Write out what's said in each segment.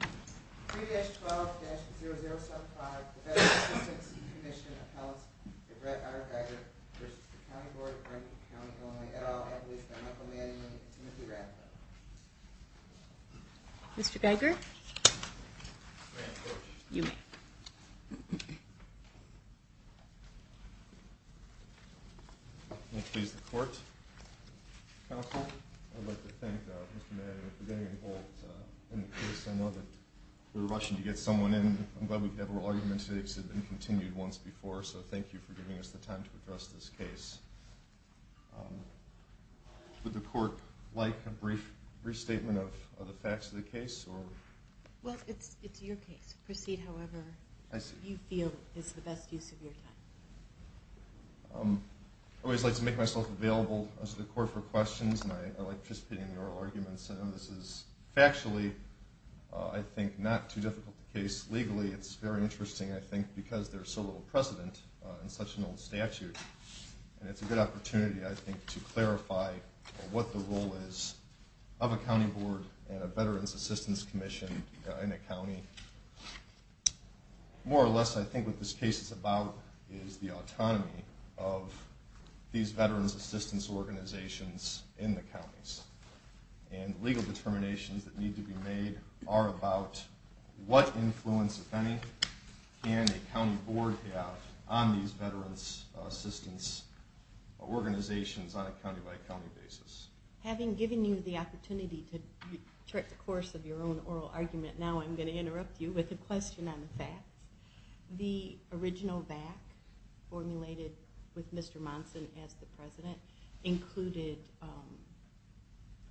3-12-0075 The Veteran's Assistance Commission of Helms v. Brett R. Geiger v. The County Board of Grundy County, Illinois, et al. And I have with me Mr. Michael Manning and Mr. Timothy Rathbun. Mr. Geiger? You may. May it please the Court, Counsel? I'd like to thank Mr. Manning for getting involved in the case. I know that we were rushing to get someone in. I'm glad we could have our argument today because it had been continued once before. So thank you for giving us the time to address this case. Would the Court like a brief restatement of the facts of the case? Well, it's your case. Proceed however you feel is the best use of your time. I always like to make myself available to the Court for questions, and I like participating in oral arguments. I know this is factually, I think, not too difficult a case. Legally, it's very interesting, I think, because there's so little precedent in such an old statute. And it's a good opportunity, I think, to clarify what the role is of a county board and a veterans' assistance commission in a county. More or less, I think what this case is about is the autonomy of these veterans' assistance organizations in the counties. And legal determinations that need to be made are about what influence, if any, can a county board have on these veterans' assistance organizations on a county-by-county basis. Having given you the opportunity to chart the course of your own oral argument, now I'm going to interrupt you with a question on the facts. The original VAC formulated with Mr. Monson as the president included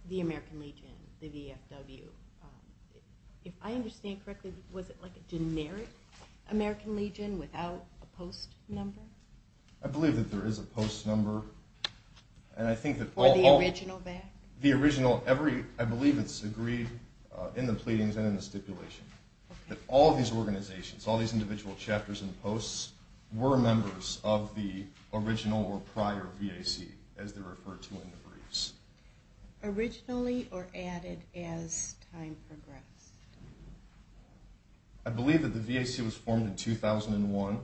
the American Legion, the VFW. If I understand correctly, was it like a generic American Legion without a post number? I believe that there is a post number. Or the original VAC? The original. I believe it's agreed in the pleadings and in the stipulation. That all these organizations, all these individual chapters and posts were members of the original or prior VAC, as they're referred to in the briefs. Originally or added as time progressed? I believe that the VAC was formed in 2001.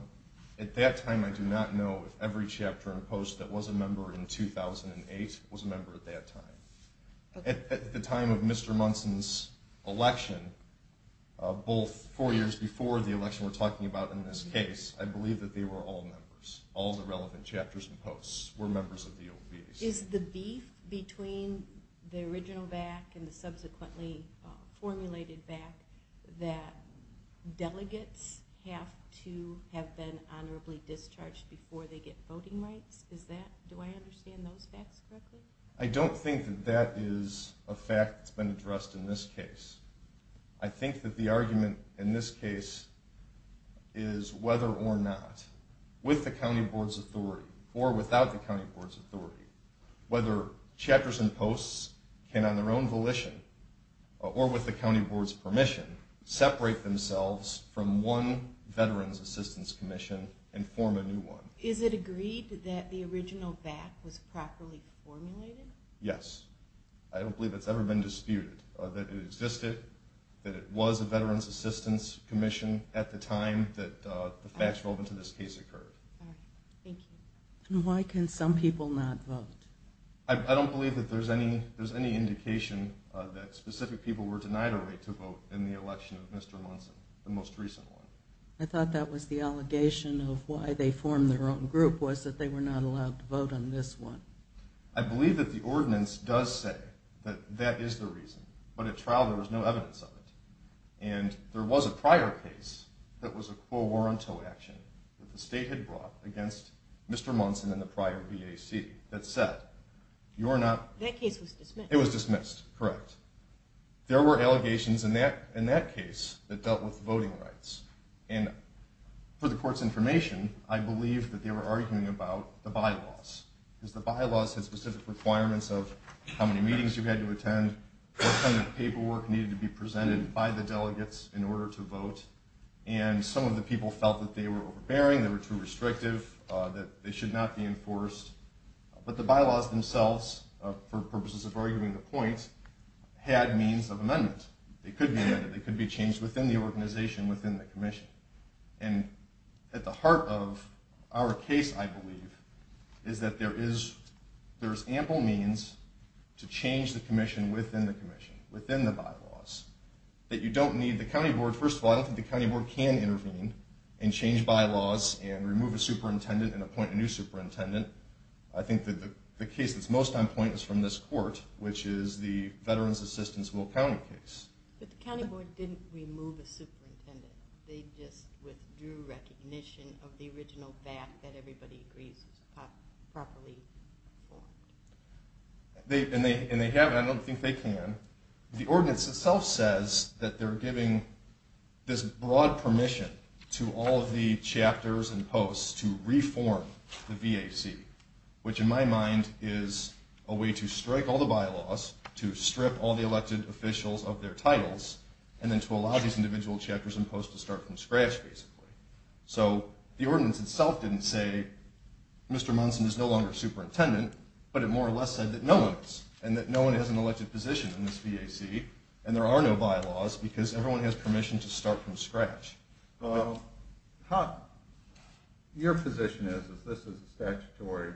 At that time, I do not know if every chapter and post that was a member in 2008 was a member at that time. At the time of Mr. Monson's election, both four years before the election we're talking about in this case, I believe that they were all members. All the relevant chapters and posts were members of the old VAC. Is the beef between the original VAC and the subsequently formulated VAC that delegates have to have been honorably discharged before they get voting rights? Do I understand those facts correctly? I don't think that that is a fact that's been addressed in this case. I think that the argument in this case is whether or not, with the county board's authority or without the county board's authority, whether chapters and posts can, on their own volition or with the county board's permission, separate themselves from one Veterans Assistance Commission and form a new one. Is it agreed that the original VAC was properly formulated? Yes. I don't believe it's ever been disputed that it existed, that it was a Veterans Assistance Commission at the time that the facts relevant to this case occurred. Thank you. Why can some people not vote? I don't believe that there's any indication that specific people were denied a right to vote in the election of Mr. Monson, the most recent one. I thought that was the allegation of why they formed their own group was that they were not allowed to vote on this one. I believe that the ordinance does say that that is the reason, but at trial there was no evidence of it. And there was a prior case that was a quo warranto action that the state had brought against Mr. Monson in the prior VAC that said you're not... That case was dismissed. It was dismissed, correct. There were allegations in that case that dealt with voting rights. And for the court's information, I believe that they were arguing about the bylaws. Because the bylaws had specific requirements of how many meetings you had to attend, what kind of paperwork needed to be presented by the delegates in order to vote. And some of the people felt that they were overbearing, they were too restrictive, that they should not be enforced. But the bylaws themselves, for purposes of arguing the point, had means of amendment. They could be amended, they could be changed within the organization, within the commission. And at the heart of our case, I believe, is that there is ample means to change the commission within the commission, within the bylaws. That you don't need the county board. First of all, I don't think the county board can intervene and change bylaws and remove a superintendent and appoint a new superintendent. I think that the case that's most on point is from this court, which is the Veterans Assistance Will County case. But the county board didn't remove a superintendent. They just withdrew recognition of the original VAC that everybody agrees was properly formed. And they haven't. I don't think they can. The ordinance itself says that they're giving this broad permission to all of the chapters and posts to reform the VAC, which in my mind is a way to strike all the bylaws, to strip all the elected officials of their titles, and then to allow these individual chapters and posts to start from scratch, basically. So the ordinance itself didn't say, Mr. Munson is no longer superintendent, but it more or less said that no one is. And that no one has an elected position in this VAC, and there are no bylaws, because everyone has permission to start from scratch. Your position is that this is a statutory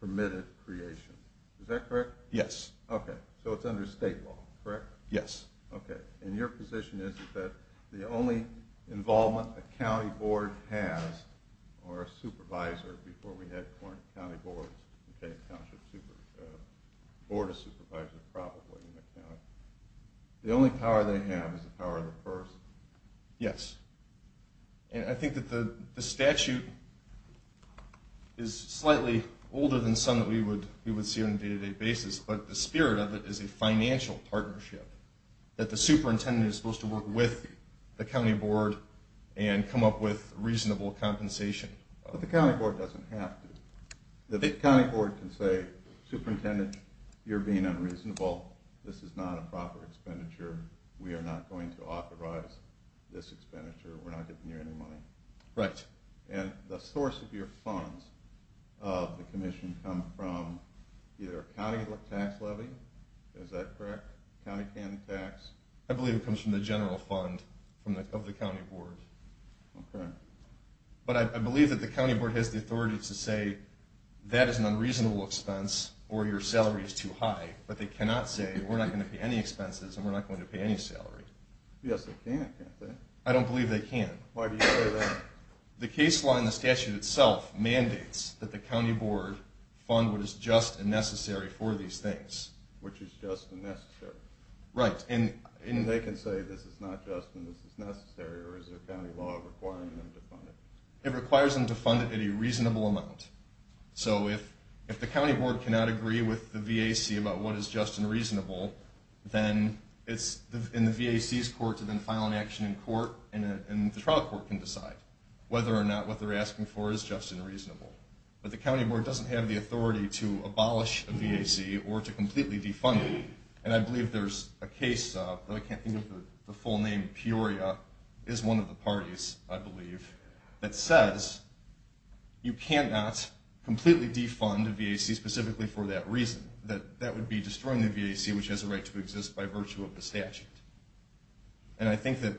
permitted creation. Is that correct? Yes. Okay. So it's under state law, correct? Yes. Okay. And your position is that the only involvement a county board has, or a supervisor, before we had county boards, a board of supervisors probably in the county, the only power they have is the power of the first. Yes. And I think that the statute is slightly older than some that we would see on a day-to-day basis, but the spirit of it is a financial partnership, that the superintendent is supposed to work with the county board and come up with reasonable compensation. But the county board doesn't have to. The county board can say, superintendent, you're being unreasonable, this is not a proper expenditure, we are not going to authorize this expenditure, we're not giving you any money. Right. And the source of your funds of the commission come from either county tax levy, is that correct, county county tax? I believe it comes from the general fund of the county board. Okay. But I believe that the county board has the authority to say, that is an unreasonable expense, or your salary is too high, but they cannot say, we're not going to pay any expenses, and we're not going to pay any salary. Yes, they can, can't they? I don't believe they can. Why do you say that? The case law in the statute itself mandates that the county board fund what is just and necessary for these things. Which is just and necessary. Right. And they can say, this is not just and this is necessary, or is there a county law requiring them to fund it? It requires them to fund it at a reasonable amount. So if the county board cannot agree with the VAC about what is just and reasonable, then it's in the VAC's court to then file an action in court, and the trial court can decide whether or not what they're asking for is just and reasonable. But the county board doesn't have the authority to abolish a VAC or to completely defund it. And I believe there's a case, though I can't think of the full name, Peoria, is one of the parties, I believe, that says you cannot completely defund a VAC specifically for that reason. That would be destroying the VAC, which has a right to exist by virtue of the statute. And I think that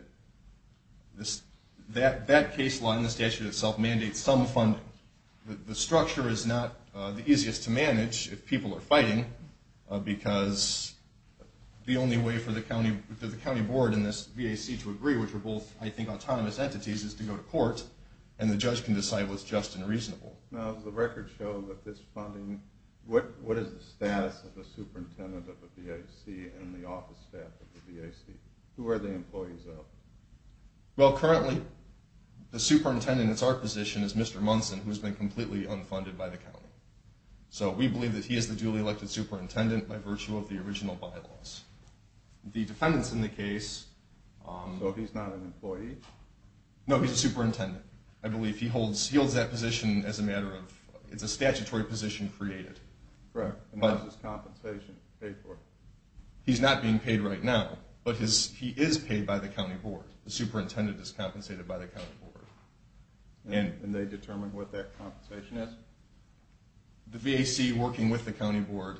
that case law in the statute itself mandates some funding. The structure is not the easiest to manage if people are fighting, because the only way for the county board and this VAC to agree, which are both, I think, autonomous entities, is to go to court, and the judge can decide what's just and reasonable. Now, does the record show that this funding, what is the status of the superintendent of the VAC and the office staff of the VAC? Who are the employees of? Well, currently, the superintendent that's our position is Mr. Munson, who's been completely unfunded by the county. So we believe that he is the duly elected superintendent by virtue of the original bylaws. The defendants in the case... So he's not an employee? No, he's a superintendent. I believe he holds that position as a matter of...it's a statutory position created. Correct. And how is his compensation paid for? He's not being paid right now, but he is paid by the county board. The superintendent is compensated by the county board. And they determine what that compensation is? The VAC working with the county board,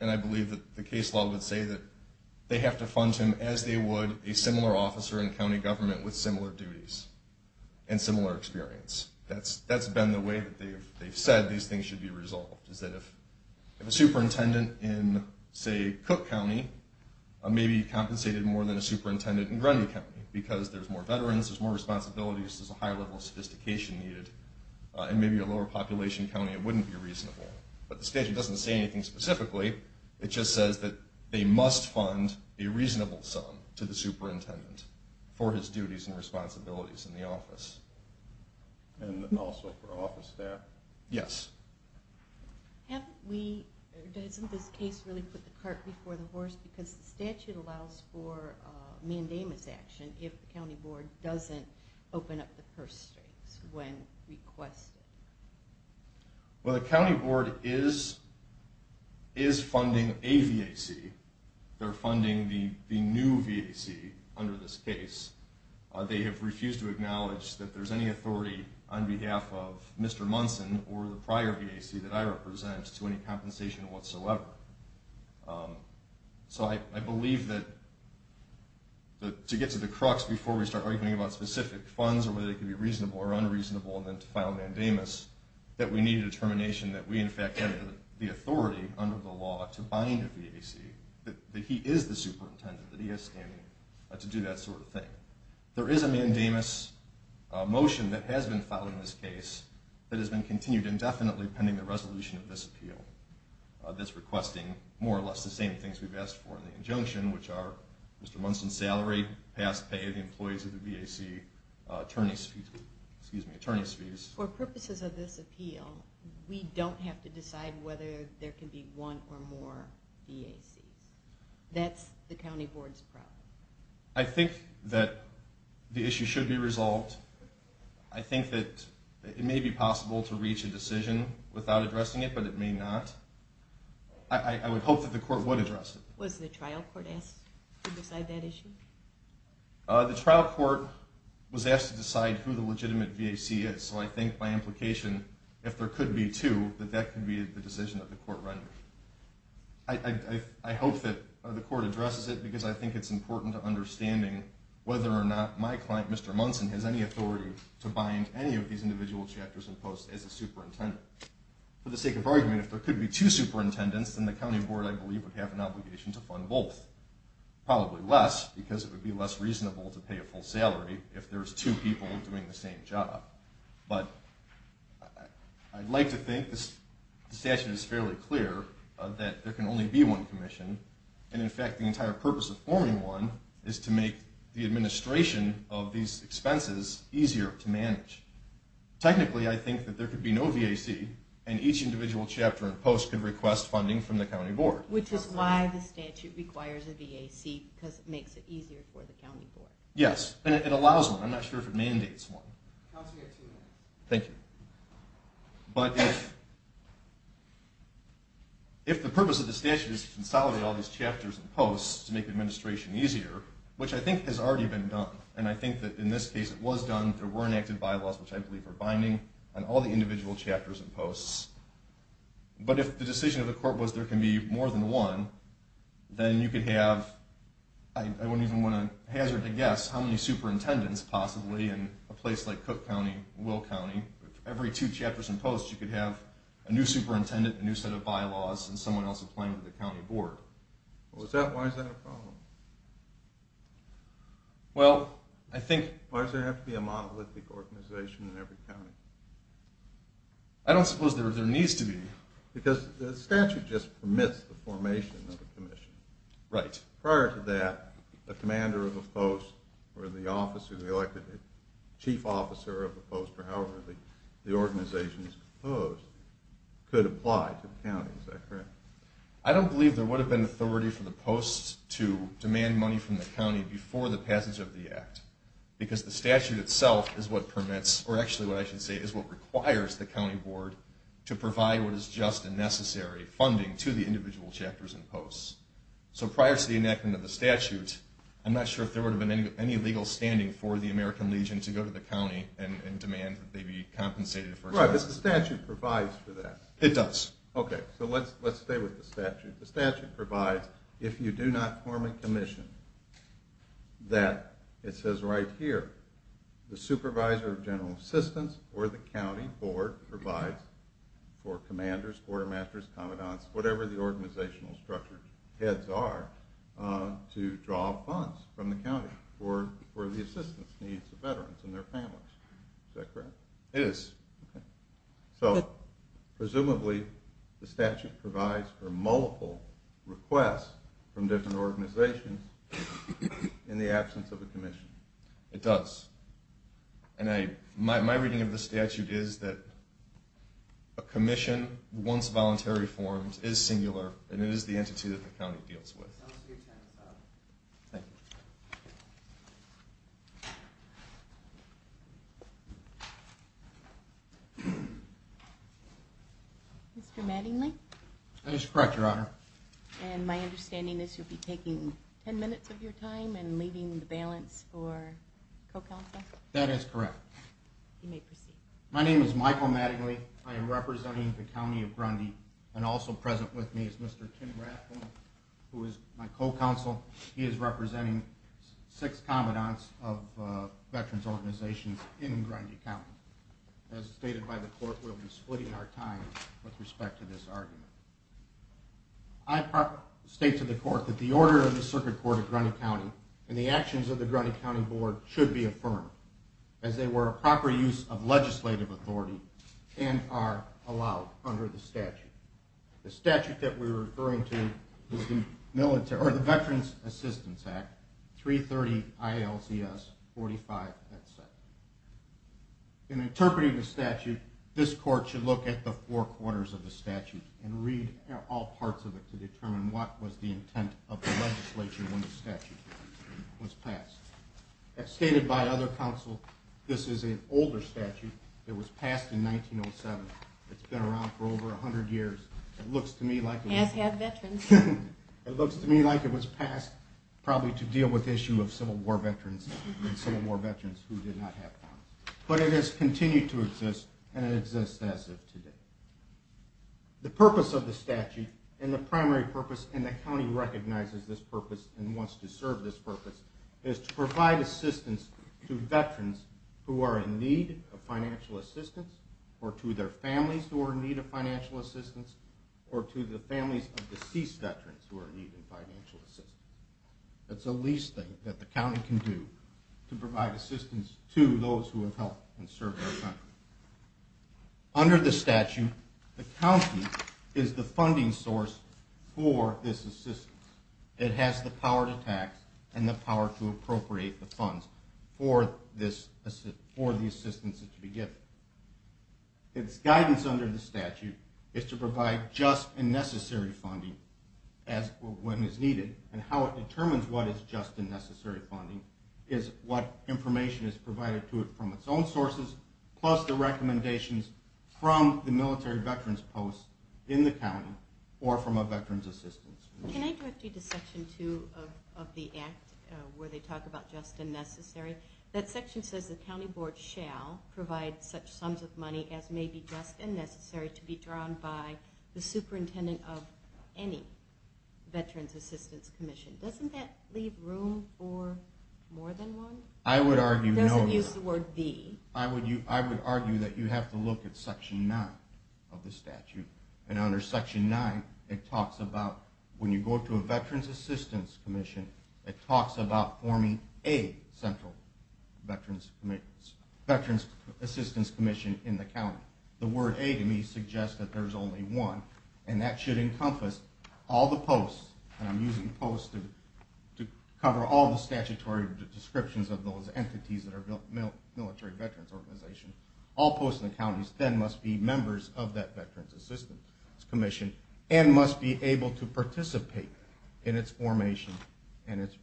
and I believe that the case law would say that they have to fund him as they would a similar officer in county government with similar duties and similar experience. That's been the way that they've said these things should be resolved, is that if a superintendent in, say, Cook County may be compensated more than a superintendent in Grundy County because there's more veterans, there's more responsibilities, there's a higher level of sophistication needed, and maybe a lower population county, it wouldn't be reasonable. But the statute doesn't say anything specifically. It just says that they must fund a reasonable sum to the superintendent for his duties and responsibilities in the office. And also for office staff? Yes. Doesn't this case really put the cart before the horse because the statute allows for mandamus action if the county board doesn't open up the purse strings when requested? Well, the county board is funding a VAC. They're funding the new VAC under this case. They have refused to acknowledge that there's any authority on behalf of Mr. Munson or the prior VAC that I represent to any compensation whatsoever. So I believe that to get to the crux before we start arguing about specific funds or whether they can be reasonable or unreasonable, and then to file a mandamus, that we need a determination that we in fact have the authority under the law to bind a VAC, that he is the superintendent, that he has standing to do that sort of thing. There is a mandamus motion that has been filed in this case that has been continued indefinitely pending the resolution of this appeal, that's requesting more or less the same things we've asked for in the injunction, which are Mr. Munson's salary, past pay of the employees of the VAC, attorney's fees. For purposes of this appeal, we don't have to decide whether there can be one or more VACs. That's the county board's problem. I think that the issue should be resolved. I think that it may be possible to reach a decision without addressing it, but it may not. I would hope that the court would address it. Was the trial court asked to decide that issue? The trial court was asked to decide who the legitimate VAC is. So I think by implication, if there could be two, that that could be the decision that the court rendered. I hope that the court addresses it, because I think it's important to understanding whether or not my client, Mr. Munson, has any authority to bind any of these individual chapters and posts as a superintendent. For the sake of argument, if there could be two superintendents, then the county board, I believe, would have an obligation to fund both. Probably less, because it would be less reasonable to pay a full salary if there's two people doing the same job. But I'd like to think the statute is fairly clear that there can only be one commission, and in fact the entire purpose of forming one is to make the administration of these expenses easier to manage. Technically, I think that there could be no VAC, and each individual chapter and post could request funding from the county board. Which is why the statute requires a VAC, because it makes it easier for the county board. Yes, and it allows one. I'm not sure if it mandates one. Thank you. But if the purpose of the statute is to consolidate all these chapters and posts to make the administration easier, which I think has already been done, and I think that in this case it was done, there were enacted bylaws, which I believe are binding, on all the individual chapters and posts, but if the decision of the court was there can be more than one, then you could have, I wouldn't even want to hazard a guess, how many superintendents possibly in a place like Cook County, Will County, every two chapters and posts you could have a new superintendent, a new set of bylaws, and someone else applying to the county board. Why is that a problem? Well, I think... Why does there have to be a monolithic organization in every county? I don't suppose there needs to be. Because the statute just permits the formation of a commission. Right. Prior to that, the commander of a post, or the chief officer of a post, or however the organization is composed, could apply to the county. Is that correct? I don't believe there would have been authority for the posts to demand money from the county before the passage of the act, because the statute itself is what permits, or actually what I should say is what requires the county board to provide what is just and necessary funding to the individual chapters and posts. So prior to the enactment of the statute, I'm not sure if there would have been any legal standing for the American Legion to go to the county and demand that they be compensated for... Right, but the statute provides for that. It does. Okay, so let's stay with the statute. The statute provides, if you do not form a commission, that, it says right here, the supervisor of general assistance, or the county board, provides for commanders, quartermasters, commandants, whatever the organizational structure heads are, to draw funds from the county for the assistance needs of veterans and their families. Is that correct? It is. Okay. So, presumably, the statute provides for multiple requests from different organizations in the absence of a commission. It does. And my reading of the statute is that a commission, once voluntary formed, is singular, and it is the entity that the county deals with. Thank you. Mr. Mattingly? That is correct, Your Honor. And my understanding is you'll be taking ten minutes of your time and leaving the balance for co-counsel? That is correct. You may proceed. My name is Michael Mattingly. I am representing the county of Grundy, and also present with me is Mr. Tim Rathbone, who is my co-counsel. He is representing six commandants of veterans organizations in Grundy County. As stated by the court, we'll be splitting our time with respect to this argument. I state to the court that the order of the Circuit Court of Grundy County and the actions of the Grundy County Board should be affirmed as they were a proper use of legislative authority and are allowed under the statute. The statute that we're referring to is the Veterans Assistance Act, 330-ILCS-45. In interpreting the statute, this court should look at the four quarters of the statute and read all parts of it to determine what was the intent of the legislation when the statute was passed. As stated by other counsel, this is an older statute that was passed in 1907. It's been around for over 100 years. It looks to me like it was passed probably to deal with the issue of Civil War veterans. But it has continued to exist and it exists as of today. The purpose of the statute and the primary purpose, and the county recognizes this purpose and wants to serve this purpose, is to provide assistance to veterans who are in need of financial assistance or to their families who are in need of financial assistance or to the families of deceased veterans who are in need of financial assistance. That's the least thing that the county can do to provide assistance to those who have helped and served our country. Under the statute, the county is the funding source for this assistance. It has the power to tax and the power to appropriate the funds for the assistance that should be given. Its guidance under the statute is to provide just and necessary funding when it's needed and how it determines what is just and necessary funding is what information is provided to it from its own sources plus the recommendations from the military veterans' posts in the county or from a veterans' assistance. Can I go to Section 2 of the Act where they talk about just and necessary? That section says the county board shall provide such sums of money as may be just and necessary to be drawn by the superintendent of any veterans' assistance commission. Doesn't that leave room for more than one? I would argue no. It doesn't use the word the. I would argue that you have to look at Section 9 of the statute. Under Section 9, when you go to a veterans' assistance commission, it talks about forming a central veterans' assistance commission in the county. The word a to me suggests that there's only one, and that should encompass all the posts. I'm using posts to cover all the statutory descriptions of those entities that are military veterans' organizations. All posts in the counties then must be members of that veterans' assistance commission and must be able to participate in its formation and its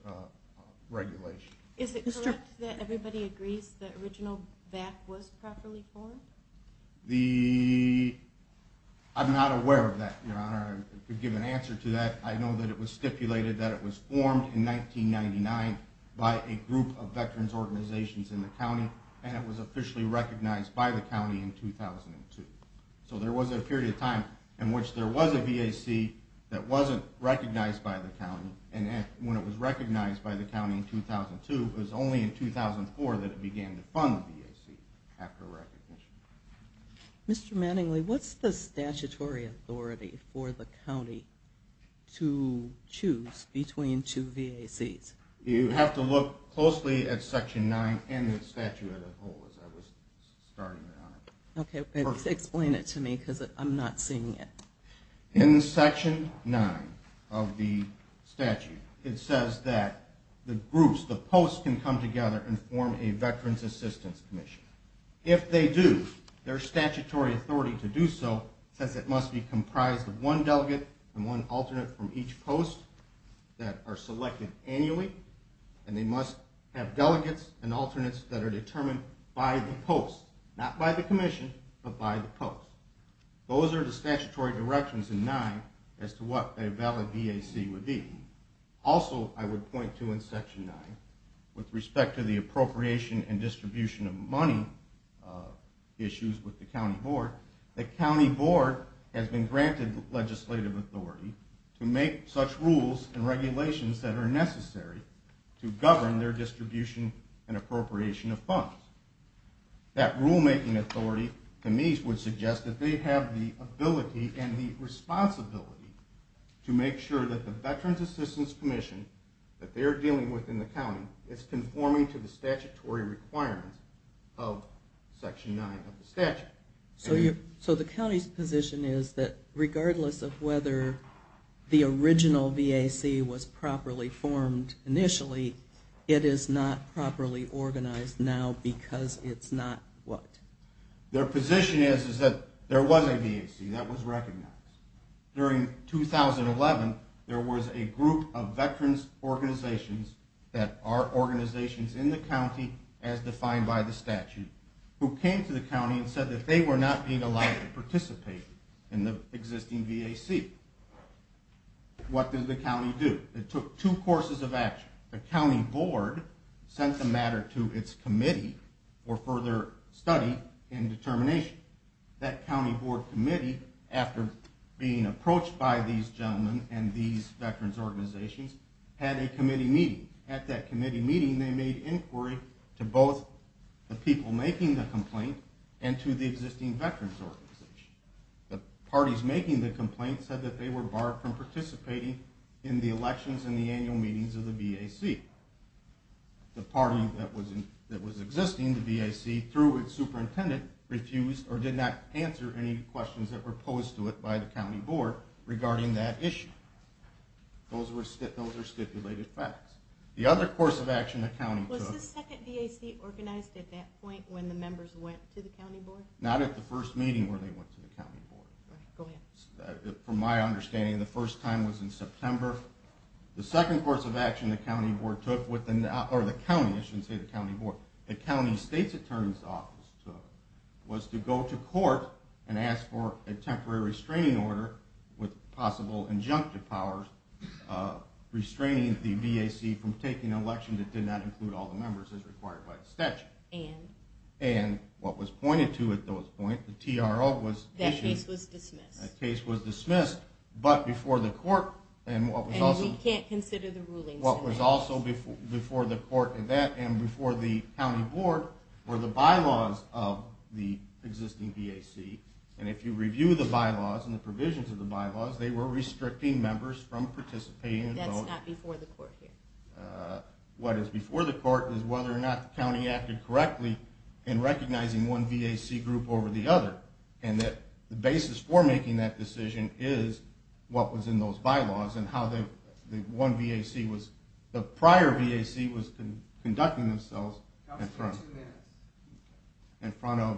regulation. Is it correct that everybody agrees the original VAC was properly formed? I'm not aware of that, Your Honor. To give an answer to that, I know that it was stipulated that it was formed in 1999 by a group of veterans' organizations in the county, and it was officially recognized by the county in 2002. So there was a period of time in which there was a VAC that wasn't recognized by the county, and when it was recognized by the county in 2002, it was only in 2004 that it began to fund the VAC after recognition. Mr. Mattingly, what's the statutory authority for the county to choose between two VACs? You have to look closely at Section 9 and the statute as a whole, as I was starting, Your Honor. Okay, but explain it to me because I'm not seeing it. In Section 9 of the statute, it says that the groups, the posts, can come together and form a veterans' assistance commission. If they do, their statutory authority to do so says it must be comprised of one delegate and one alternate from each post that are selected annually, and they must have delegates and alternates that are determined by the post, not by the commission, but by the post. Those are the statutory directions in 9 as to what a valid VAC would be. Also, I would point to in Section 9 with respect to the appropriation and distribution of money issues with the county board, the county board has been granted legislative authority to make such rules and regulations that are necessary to govern their distribution and appropriation of funds. That rulemaking authority to me would suggest that they have the ability and the responsibility to make sure that the veterans' assistance commission that they're dealing with in the county is conforming to the statutory requirements of Section 9 of the statute. So the county's position is that regardless of whether the original VAC was properly formed initially, it is not properly organized now because it's not what? Their position is that there was a VAC that was recognized. During 2011, there was a group of veterans' organizations that are organizations in the county as defined by the statute who came to the county and said that they were not being allowed to participate in the existing VAC. What did the county do? It took two courses of action. The county board sent the matter to its committee for further study and determination. That county board committee, after being approached by these gentlemen and these veterans' organizations, had a committee meeting. At that committee meeting, they made inquiry to both the people making the complaint and to the existing veterans' organization. The parties making the complaint said that they were barred from participating in the elections and the annual meetings of the VAC. The party that was existing, the VAC, through its superintendent, refused or did not answer any questions that were posed to it by the county board regarding that issue. Those are stipulated facts. The other course of action the county took... Was the second VAC organized at that point when the members went to the county board? Not at the first meeting where they went to the county board. From my understanding, the first time was in September. The second course of action the county board took with the... or the county, I shouldn't say the county board, the county state's attorney's office took was to go to court and ask for a temporary restraining order with possible injunctive powers restraining the VAC from taking an election that did not include all the members as required by the statute. And what was pointed to at those points, the TRO was issued... That case was dismissed. That case was dismissed, but before the court... And we can't consider the rulings in that case. What was also before the court in that, and before the county board, were the bylaws of the existing VAC. And if you review the bylaws and the provisions of the bylaws, they were restricting members from participating in the vote. That's not before the court here. What is before the court is whether or not the county acted correctly in recognizing one VAC group over the other, and that the basis for making that decision is what was in those bylaws and how the one VAC was... the prior VAC was conducting themselves in front of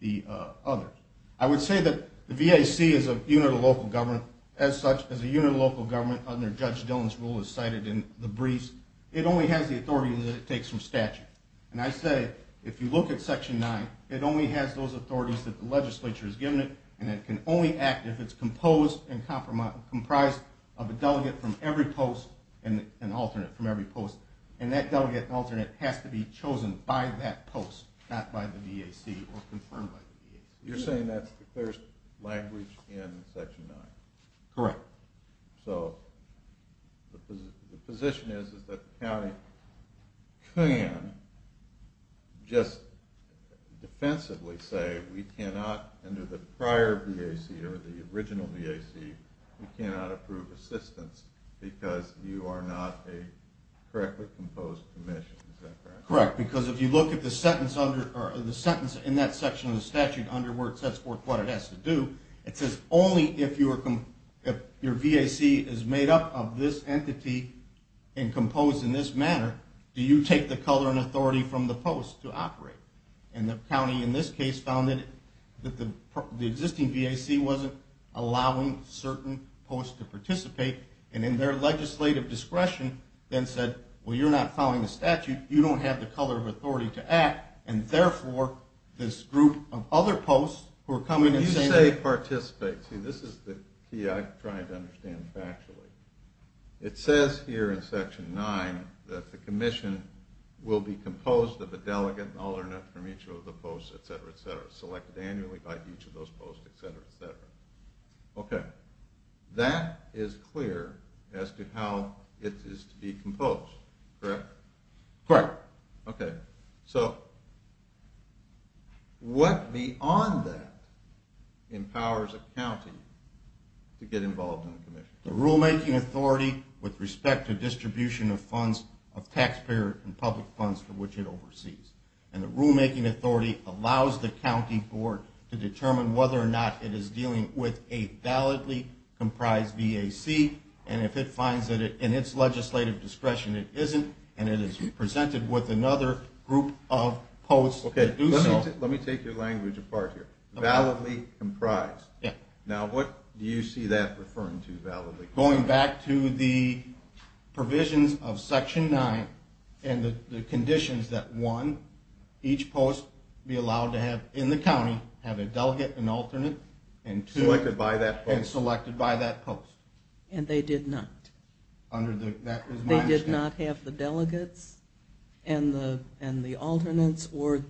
the others. I would say that the VAC is a unit of local government, as such, as a unit of local government under Judge Dillon's rule as cited in the briefs. It only has the authority that it takes from statute. And I say, if you look at Section 9, it only has those authorities that the legislature has given it, and it can only act if it's composed and comprised of a delegate from every post and an alternate from every post. And that delegate and alternate has to be chosen by that post, not by the VAC or confirmed by the VAC. You're saying that's the first language in Section 9? Correct. So the position is that the county can just defensively say, we cannot, under the prior VAC or the original VAC, we cannot approve assistance because you are not a correctly composed commission. Is that correct? Correct, because if you look at the sentence in that section of the statute under where it says what it has to do, it says only if your VAC is made up of this entity and composed in this manner, do you take the color and authority from the post to operate. And the county in this case found that the existing VAC wasn't allowing certain posts to participate, and in their legislative discretion, then said, well, you're not following the statute, you don't have the color of authority to act, and therefore this group of other posts who are coming in the same way. When you say participate, see, this is the key I'm trying to understand factually. It says here in Section 9 that the commission will be composed of a delegate and alternate from each of the posts, et cetera, et cetera, selected annually by each of those posts, et cetera, et cetera. Okay. That is clear as to how it is to be composed, correct? Correct. Okay. So what beyond that empowers a county to get involved in the commission? The rulemaking authority with respect to distribution of funds, of taxpayer and public funds for which it oversees. And the rulemaking authority allows the county board to determine whether or not it is dealing with a validly comprised VAC, and if it finds that in its legislative discretion it isn't, and it is presented with another group of posts that do so. Okay. Let me take your language apart here. Validly comprised. Yeah. Now what do you see that referring to, validly comprised? Going back to the provisions of Section 9 and the conditions that, one, each post be allowed to have in the county, have a delegate and alternate, And they did not. That is my understanding. They did not have the delegates and the alternates, or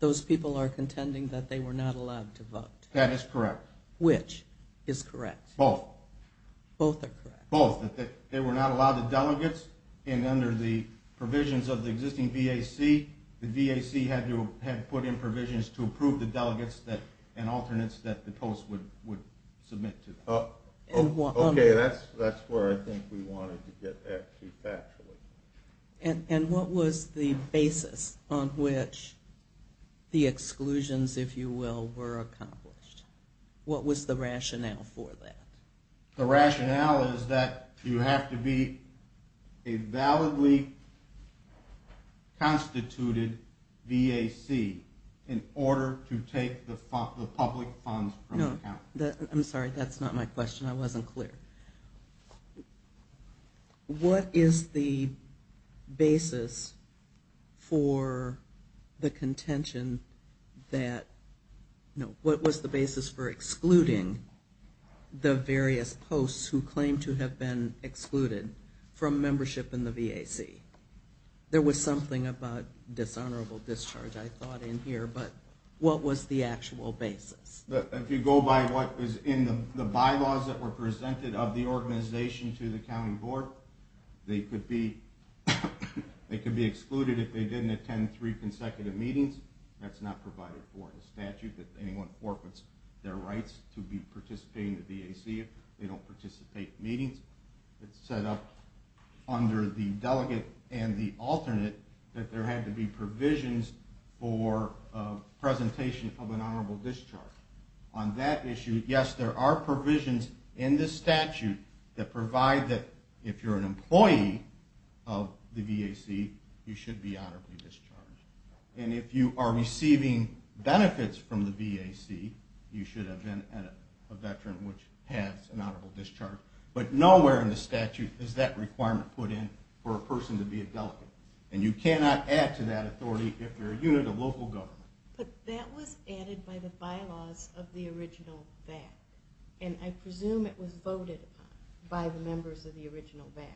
those people are contending that they were not allowed to vote. That is correct. Which is correct? Both. Both are correct? Both. That they were not allowed the delegates, and under the provisions of the existing VAC, the VAC had put in provisions to approve the delegates and alternates that the posts would submit to them. Okay, that's where I think we wanted to get back to actually. And what was the basis on which the exclusions, if you will, were accomplished? What was the rationale for that? The rationale is that you have to be a validly constituted VAC in order to take the public funds from the county. I'm sorry, that's not my question. I wasn't clear. What is the basis for the contention that, no, what was the basis for excluding the various posts who claimed to have been excluded from membership in the VAC? There was something about dishonorable discharge I thought in here, but what was the actual basis? If you go by what was in the bylaws that were presented of the organization to the county board, they could be excluded if they didn't attend three consecutive meetings. That's not provided for in the statute that anyone forfeits their rights to be participating in the VAC if they don't participate in meetings. It's set up under the delegate and the alternate that there had to be on that issue. Yes, there are provisions in this statute that provide that if you're an employee of the VAC, you should be honorably discharged. And if you are receiving benefits from the VAC, you should have been a veteran which has an honorable discharge. But nowhere in the statute is that requirement put in for a person to be a delegate. And you cannot add to that authority if you're a unit of local government. But that was added by the bylaws of the original VAC, and I presume it was voted upon by the members of the original VAC.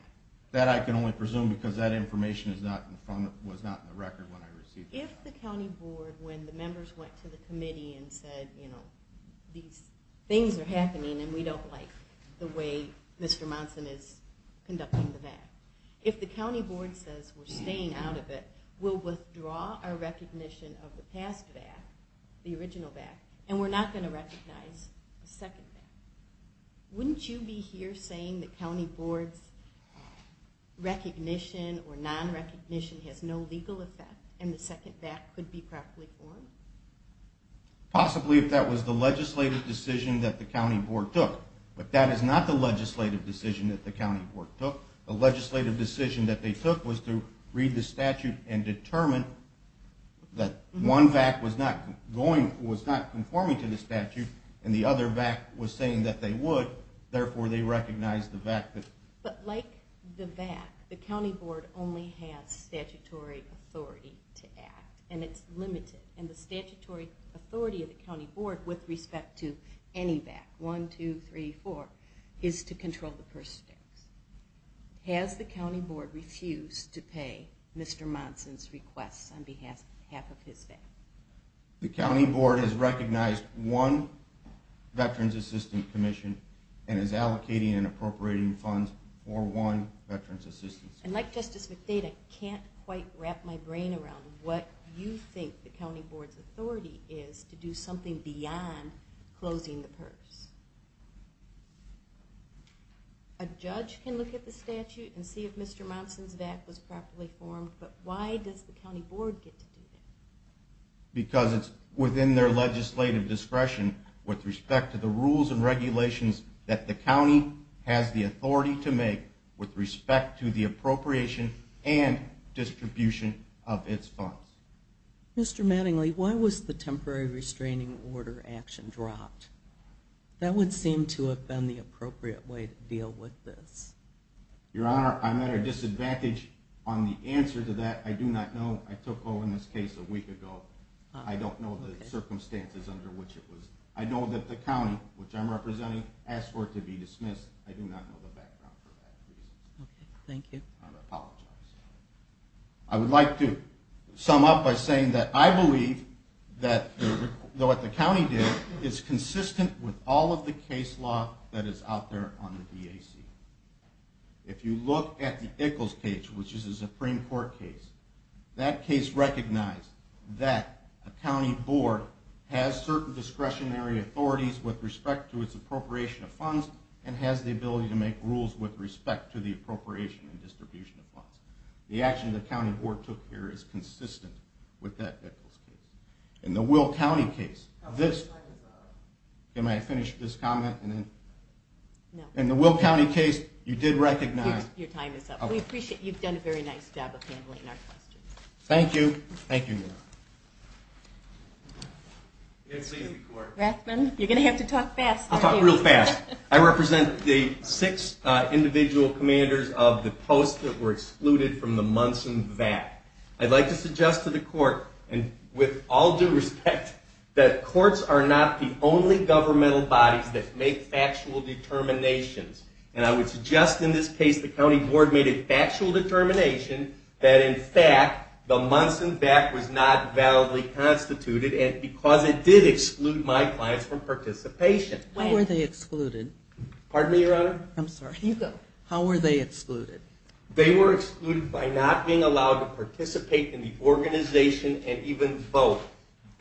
That I can only presume because that information was not in the record when I received it. If the county board, when the members went to the committee and said, you know, these things are happening and we don't like the way Mr. Monson is conducting the VAC, if the county board says we're staying out of it, we'll withdraw our recognition of the past VAC, the original VAC, and we're not going to recognize the second VAC. Wouldn't you be here saying the county board's recognition or non-recognition has no legal effect and the second VAC could be properly formed? Possibly if that was the legislative decision that the county board took. But that is not the legislative decision that the county board took. The legislative decision that they took was to read the statute and determine that one VAC was not conforming to the statute and the other VAC was saying that they would, therefore they recognized the VAC. But like the VAC, the county board only has statutory authority to act, and it's limited. And the statutory authority of the county board with respect to any VAC, one, two, three, four, is to control the purse tax. Has the county board refused to pay Mr. Monson's request on behalf of his VAC? The county board has recognized one Veterans Assistance Commission and is allocating and appropriating funds for one Veterans Assistance Commission. And like Justice McDade, I can't quite wrap my brain around what you think the county board's authority is to do something beyond closing the purse. A judge can look at the statute and see if Mr. Monson's VAC was properly formed, but why does the county board get to do that? Because it's within their legislative discretion with respect to the rules and regulations that the county has the authority to make with respect to the appropriation and distribution of its funds. Mr. Mattingly, why was the temporary restraining order action dropped? That would seem to have been the appropriate way to deal with this. Your Honor, I'm at a disadvantage on the answer to that. I do not know. I took over in this case a week ago. I don't know the circumstances under which it was. I know that the county, which I'm representing, asked for it to be dismissed. I do not know the background for that. I apologize. I would like to sum up by saying that I believe that what the county did is consistent with all of the case law that is out there on the DAC. If you look at the Ickles case, which is a Supreme Court case, that case recognized that a county board has certain discretionary authorities with respect to its appropriation of funds and has the ability to make rules with respect to the appropriation and distribution of funds. The action the county board took here is consistent with that Ickles case. In the Will County case, you did recognize. Your time is up. We appreciate it. You've done a very nice job of handling our questions. Thank you. Thank you, Your Honor. Yes, please. Rathbun, you're going to have to talk fast. I'll talk real fast. I represent the six individual commanders of the posts that were excluded from the Munson VAC. I'd like to suggest to the court, and with all due respect, that courts are not the only governmental bodies that make factual determinations. And I would suggest in this case the county board made a factual determination that, in fact, the Munson VAC was not validly constituted because it did exclude my clients from participation. How were they excluded? Pardon me, Your Honor? I'm sorry. You go. How were they excluded? They were excluded by not being allowed to participate in the organization and even vote.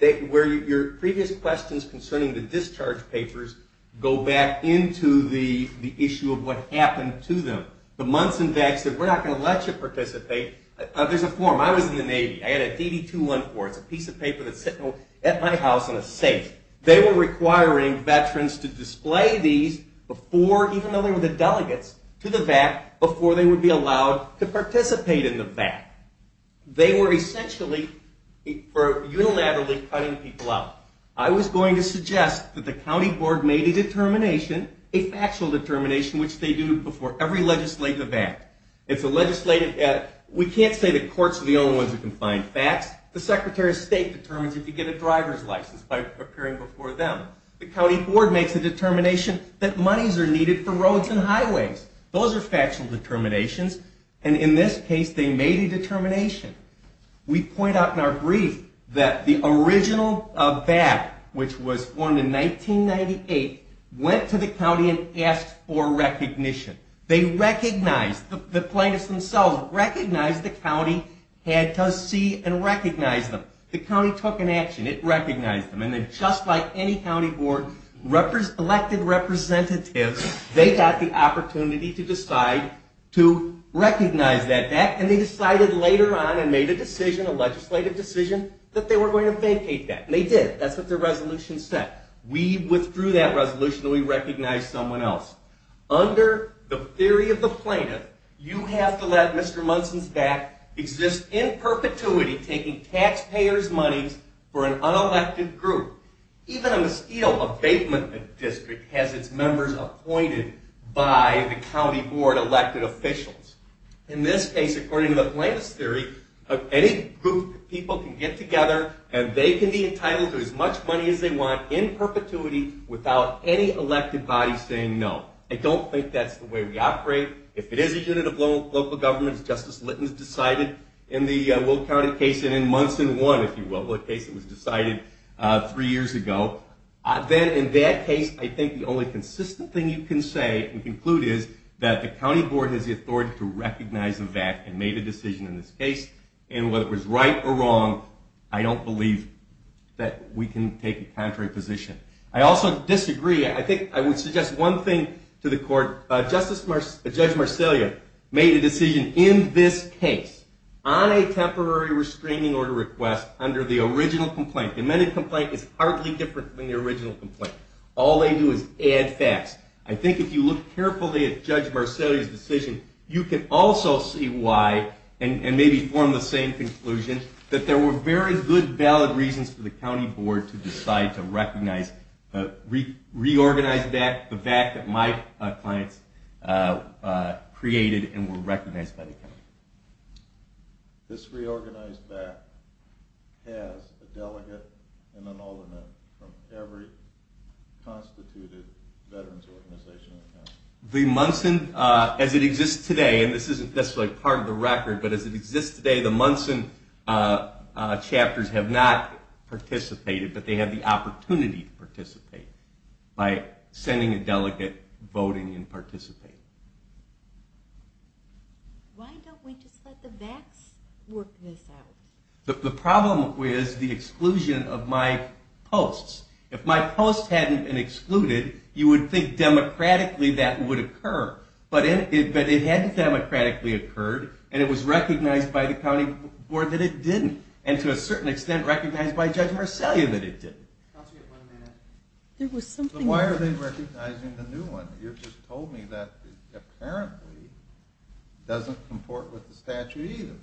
Your previous questions concerning the discharge papers go back into the issue of what happened to them. The Munson VAC said, We're not going to let you participate. There's a form. I was in the Navy. I had a DD-214. It's a piece of paper that's sitting at my house on a safe. They were requiring veterans to display these before, even though they were the delegates, to the VAC, before they would be allowed to participate in the VAC. They were essentially unilaterally cutting people out. I was going to suggest that the county board made a determination, a factual determination, which they do before every legislative VAC. It's a legislative VAC. We can't say the courts are the only ones who can find facts. The Secretary of State determines if you get a driver's license by appearing before them. The county board makes a determination that monies are needed for roads and highways. Those are factual determinations, and in this case, they made a determination. We point out in our brief that the original VAC, which was formed in 1998, went to the county and asked for recognition. They recognized, the plaintiffs themselves, recognized the county had to see and recognize them. The county took an action. It recognized them, and then just like any county board, elected representatives, they got the opportunity to decide to recognize that VAC, and they decided later on and made a decision, a legislative decision, that they were going to vacate that, and they did. That's what the resolution said. We withdrew that resolution, and we recognized someone else. Under the theory of the plaintiff, you have to let Mr. Munson's VAC exist in perpetuity, taking taxpayer's monies for an unelected group. Even in the steel abatement district has its members appointed by the county board elected officials. In this case, according to the plaintiff's theory, any group of people can get together, and they can be entitled to as much money as they want in perpetuity without any elected body saying no. I don't think that's the way we operate. If it is a unit of local government, as Justice Litton has decided in the Will County case, and in Munson 1, if you will, the case that was decided three years ago, then in that case, I think the only consistent thing you can say and conclude is that the county board has the authority to recognize a VAC and made a decision in this case, and whether it was right or wrong, I don't believe that we can take a contrary position. I also disagree. I think I would suggest one thing to the court. Judge Marcellia made a decision in this case on a temporary restraining order request under the original complaint. The amended complaint is hardly different from the original complaint. All they do is add facts. I think if you look carefully at Judge Marcellia's decision, you can also see why, and maybe form the same conclusion, that there were very good valid reasons for the county board to decide to recognize a reorganized VAC, the VAC that my clients created and were recognized by the county. This reorganized VAC has a delegate and an alderman from every constituted veterans organization in the county. The Munson, as it exists today, and this isn't necessarily part of the record, but as it exists today, the Munson chapters have not participated, but they have the opportunity to participate by sending a delegate, voting, and participating. Why don't we just let the VACs work this out? The problem is the exclusion of my posts. If my posts hadn't been excluded, you would think democratically that would occur. But it hadn't democratically occurred, and it was recognized by the county board that it didn't, and to a certain extent recognized by Judge Marcellia that it didn't. Why are they recognizing the new one? You just told me that apparently doesn't comport with the statute either.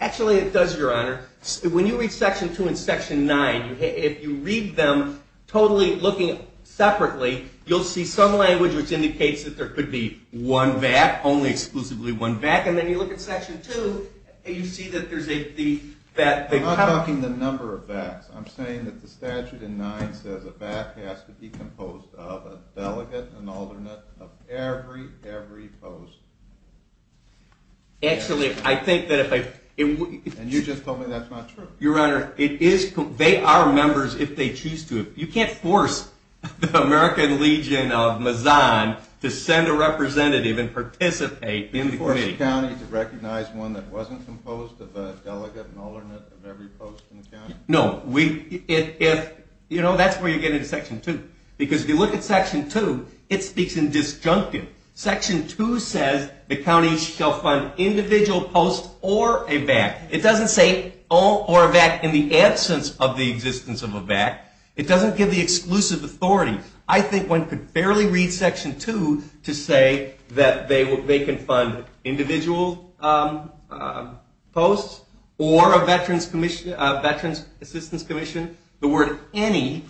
Actually, it does, Your Honor. When you read Section 2 and Section 9, if you read them totally looking separately, you'll see some language which indicates that there could be one VAC, only exclusively one VAC, and then you look at Section 2, and you see that there's a VAC. I'm not talking the number of VACs. I'm saying that the statute in 9 says a VAC has to be composed of a delegate, an alderman of every, every post. Actually, I think that if I – And you just told me that's not true. Your Honor, they are members if they choose to. You can't force the American Legion of Mazan to send a representative and participate in the committee. You can't force a county to recognize one that wasn't composed of a delegate, an alderman of every post in the county? No. That's where you get into Section 2, because if you look at Section 2, it speaks in disjunctive. Section 2 says the county shall fund individual posts or a VAC. It doesn't say all or a VAC in the absence of the existence of a VAC. It doesn't give the exclusive authority. I think one could barely read Section 2 to say that they can fund individual posts or a Veterans Assistance Commission. The word any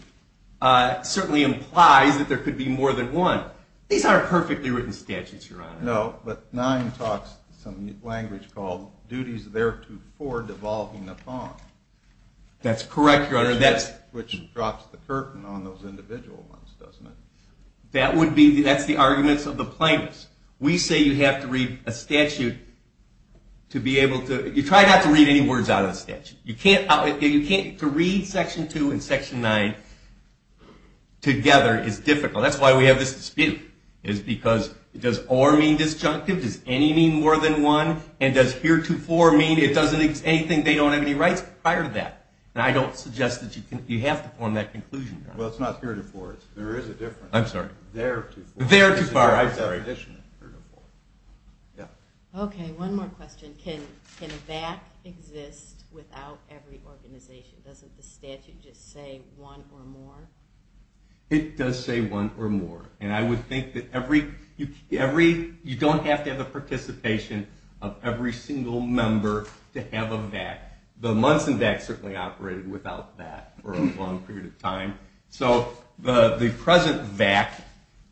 certainly implies that there could be more than one. These aren't perfectly written statutes, Your Honor. No, but 9 talks some language called duties thereto for devolving upon. That's correct, Your Honor. Which drops the curtain on those individual ones, doesn't it? That would be – that's the arguments of the plaintiffs. We say you have to read a statute to be able to – you try not to read any words out of the statute. You can't – to read Section 2 and Section 9 together is difficult. That's why we have this dispute, is because does or mean disjunctive? Does any mean more than one? And does heretofore mean it doesn't – anything they don't have any rights prior to that? And I don't suggest that you have to form that conclusion, Your Honor. Well, it's not heretofore. There is a difference. I'm sorry. Theretofore. Theretofore, I'm sorry. It's a different tradition, heretofore. Yeah. Okay, one more question. Can a VAC exist without every organization? Doesn't the statute just say one or more? It does say one or more. And I would think that every – you don't have to have the participation of every single member to have a VAC. The Munson VAC certainly operated without that for a long period of time. So the present VAC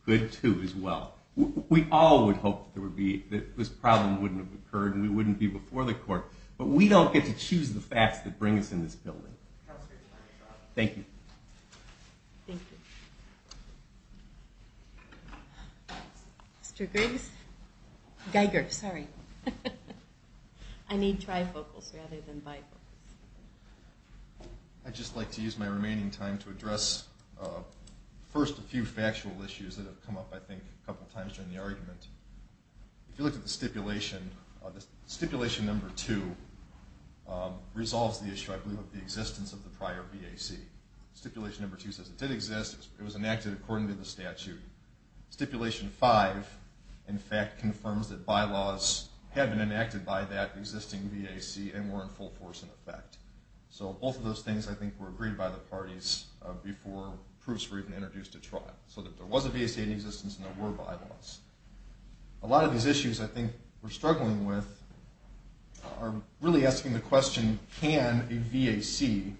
could, too, as well. We all would hope that there would be – that this problem wouldn't have occurred and we wouldn't be before the court. But we don't get to choose the facts that bring us in this building. Thank you. Thank you. Mr. Griggs? Geiger, sorry. I need trifocals rather than bifocals. I'd just like to use my remaining time to address first a few factual issues that have come up, I think, a couple times during the argument. If you look at the stipulation, stipulation number two resolves the issue, I believe, of the existence of the prior VAC. Stipulation number two says it did exist. It was enacted according to the statute. Stipulation five, in fact, confirms that bylaws had been enacted by that existing VAC and were in full force in effect. So both of those things, I think, were agreed by the parties before proofs were even introduced at trial, so that there was a VAC in existence and there were bylaws. A lot of these issues, I think, we're struggling with are really asking the question, can a VAC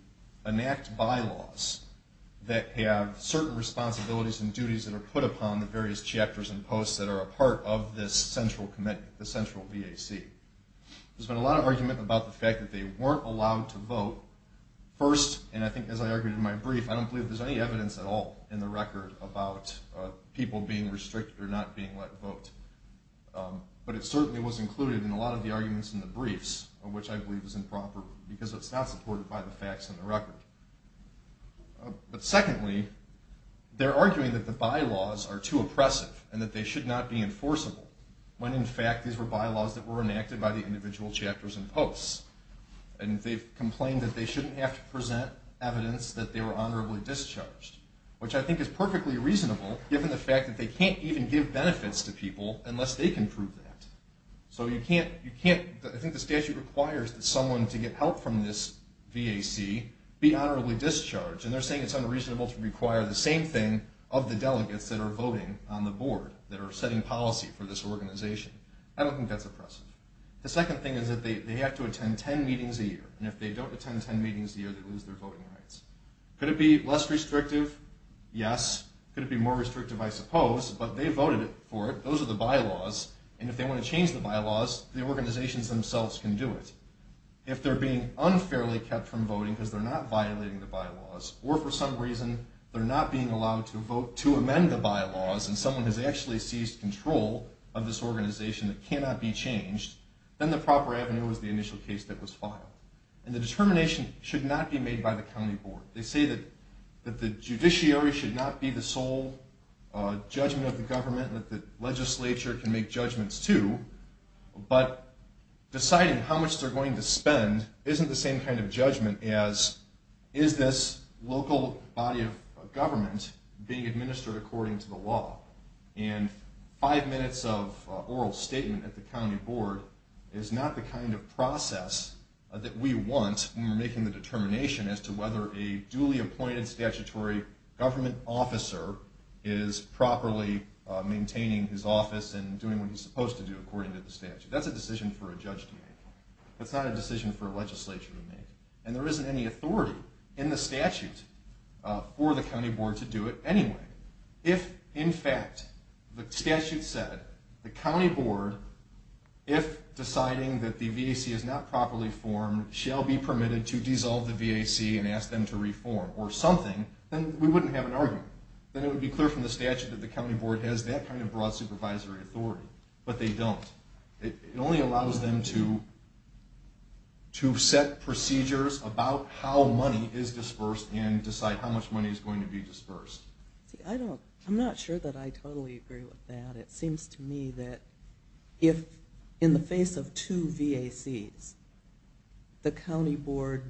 enact bylaws that have certain responsibilities and duties that are put upon the various chapters and posts that are a part of this central commitment, the central VAC? There's been a lot of argument about the fact that they weren't allowed to vote. First, and I think as I argued in my brief, I don't believe there's any evidence at all in the record about people being restricted or not being let vote. But it certainly was included in a lot of the arguments in the briefs, which I believe is improper because it's not supported by the facts in the record. But secondly, they're arguing that the bylaws are too oppressive and that they should not be enforceable when, in fact, these were bylaws that were enacted by the individual chapters and posts. And they've complained that they shouldn't have to present evidence that they were honorably discharged, which I think is perfectly reasonable given the fact that they can't even give benefits to people unless they can prove that. So I think the statute requires that someone to get help from this VAC be honorably discharged, and they're saying it's unreasonable to require the same thing of the delegates that are voting on the board, that are setting policy for this organization. I don't think that's oppressive. The second thing is that they have to attend 10 meetings a year, and if they don't attend 10 meetings a year, they lose their voting rights. Could it be less restrictive? Yes. Could it be more restrictive? I suppose. But they voted for it. Those are the bylaws. And if they want to change the bylaws, the organizations themselves can do it. If they're being unfairly kept from voting because they're not violating the bylaws, or for some reason they're not being allowed to amend the bylaws and someone has actually seized control of this organization that cannot be changed, then the proper avenue is the initial case that was filed. And the determination should not be made by the county board. They say that the judiciary should not be the sole judgment of the government, that the legislature can make judgments too, but deciding how much they're going to spend isn't the same kind of judgment as, is this local body of government being administered according to the law? And five minutes of oral statement at the county board is not the kind of process that we want when we're making the determination as to whether a duly appointed statutory government officer is properly maintaining his office and doing what he's supposed to do according to the statute. That's a decision for a judge to make. That's not a decision for a legislature to make. And there isn't any authority in the statute for the county board to do it anyway. If, in fact, the statute said the county board, if deciding that the VAC is not properly formed, shall be permitted to dissolve the VAC and ask them to reform or something, then we wouldn't have an argument. Then it would be clear from the statute that the county board has that kind of broad supervisory authority. But they don't. It only allows them to set procedures about how money is dispersed and decide how much money is going to be dispersed. I'm not sure that I totally agree with that. It seems to me that if, in the face of two VACs, the county board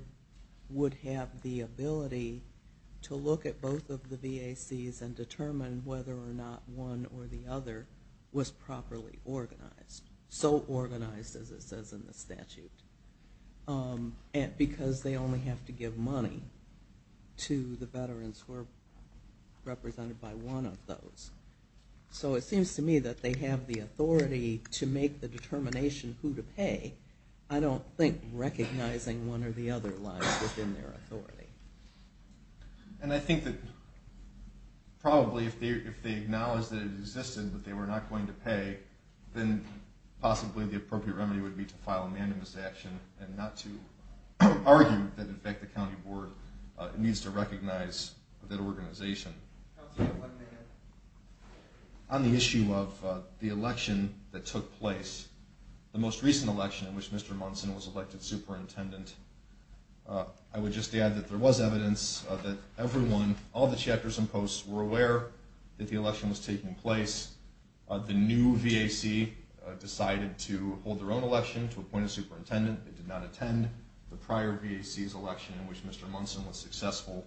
would have the ability to look at both of the VACs and determine whether or not one or the other was properly organized, so organized as it says in the statute, because they only have to give money to the veterans who are represented by one of those. So it seems to me that they have the authority to make the determination who to pay. I don't think recognizing one or the other lies within their authority. And I think that probably if they acknowledge that it existed but they were not going to pay, then possibly the appropriate remedy would be to file a manumiss action and not to argue that, in fact, the county board needs to recognize that organization. On the issue of the election that took place, the most recent election in which Mr. Munson was elected superintendent, I would just add that there was evidence that everyone, all the chapters and posts, were aware that the election was taking place. The new VAC decided to hold their own election to appoint a superintendent. They did not attend the prior VAC's election in which Mr. Munson was successful.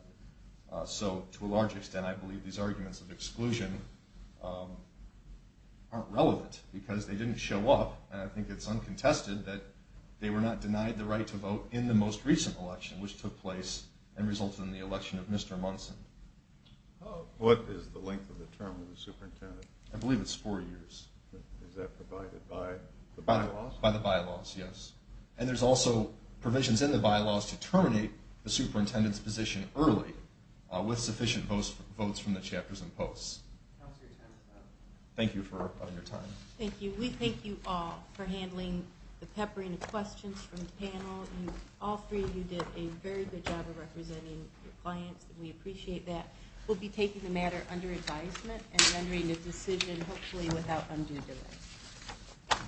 So to a large extent, I believe these arguments of exclusion aren't relevant because they didn't show up, and I think it's uncontested that they were not denied the right to vote in the most recent election, which took place and resulted in the election of Mr. Munson. What is the length of the term of the superintendent? I believe it's four years. Is that provided by the bylaws? By the bylaws, yes. And there's also provisions in the bylaws to terminate the superintendent's position early with sufficient votes from the chapters and posts. Thank you for your time. Thank you. We thank you all for handling the peppering of questions from the panel. All three of you did a very good job of representing your clients. We appreciate that. We'll be taking the matter under advisement and rendering a decision hopefully without undue delay.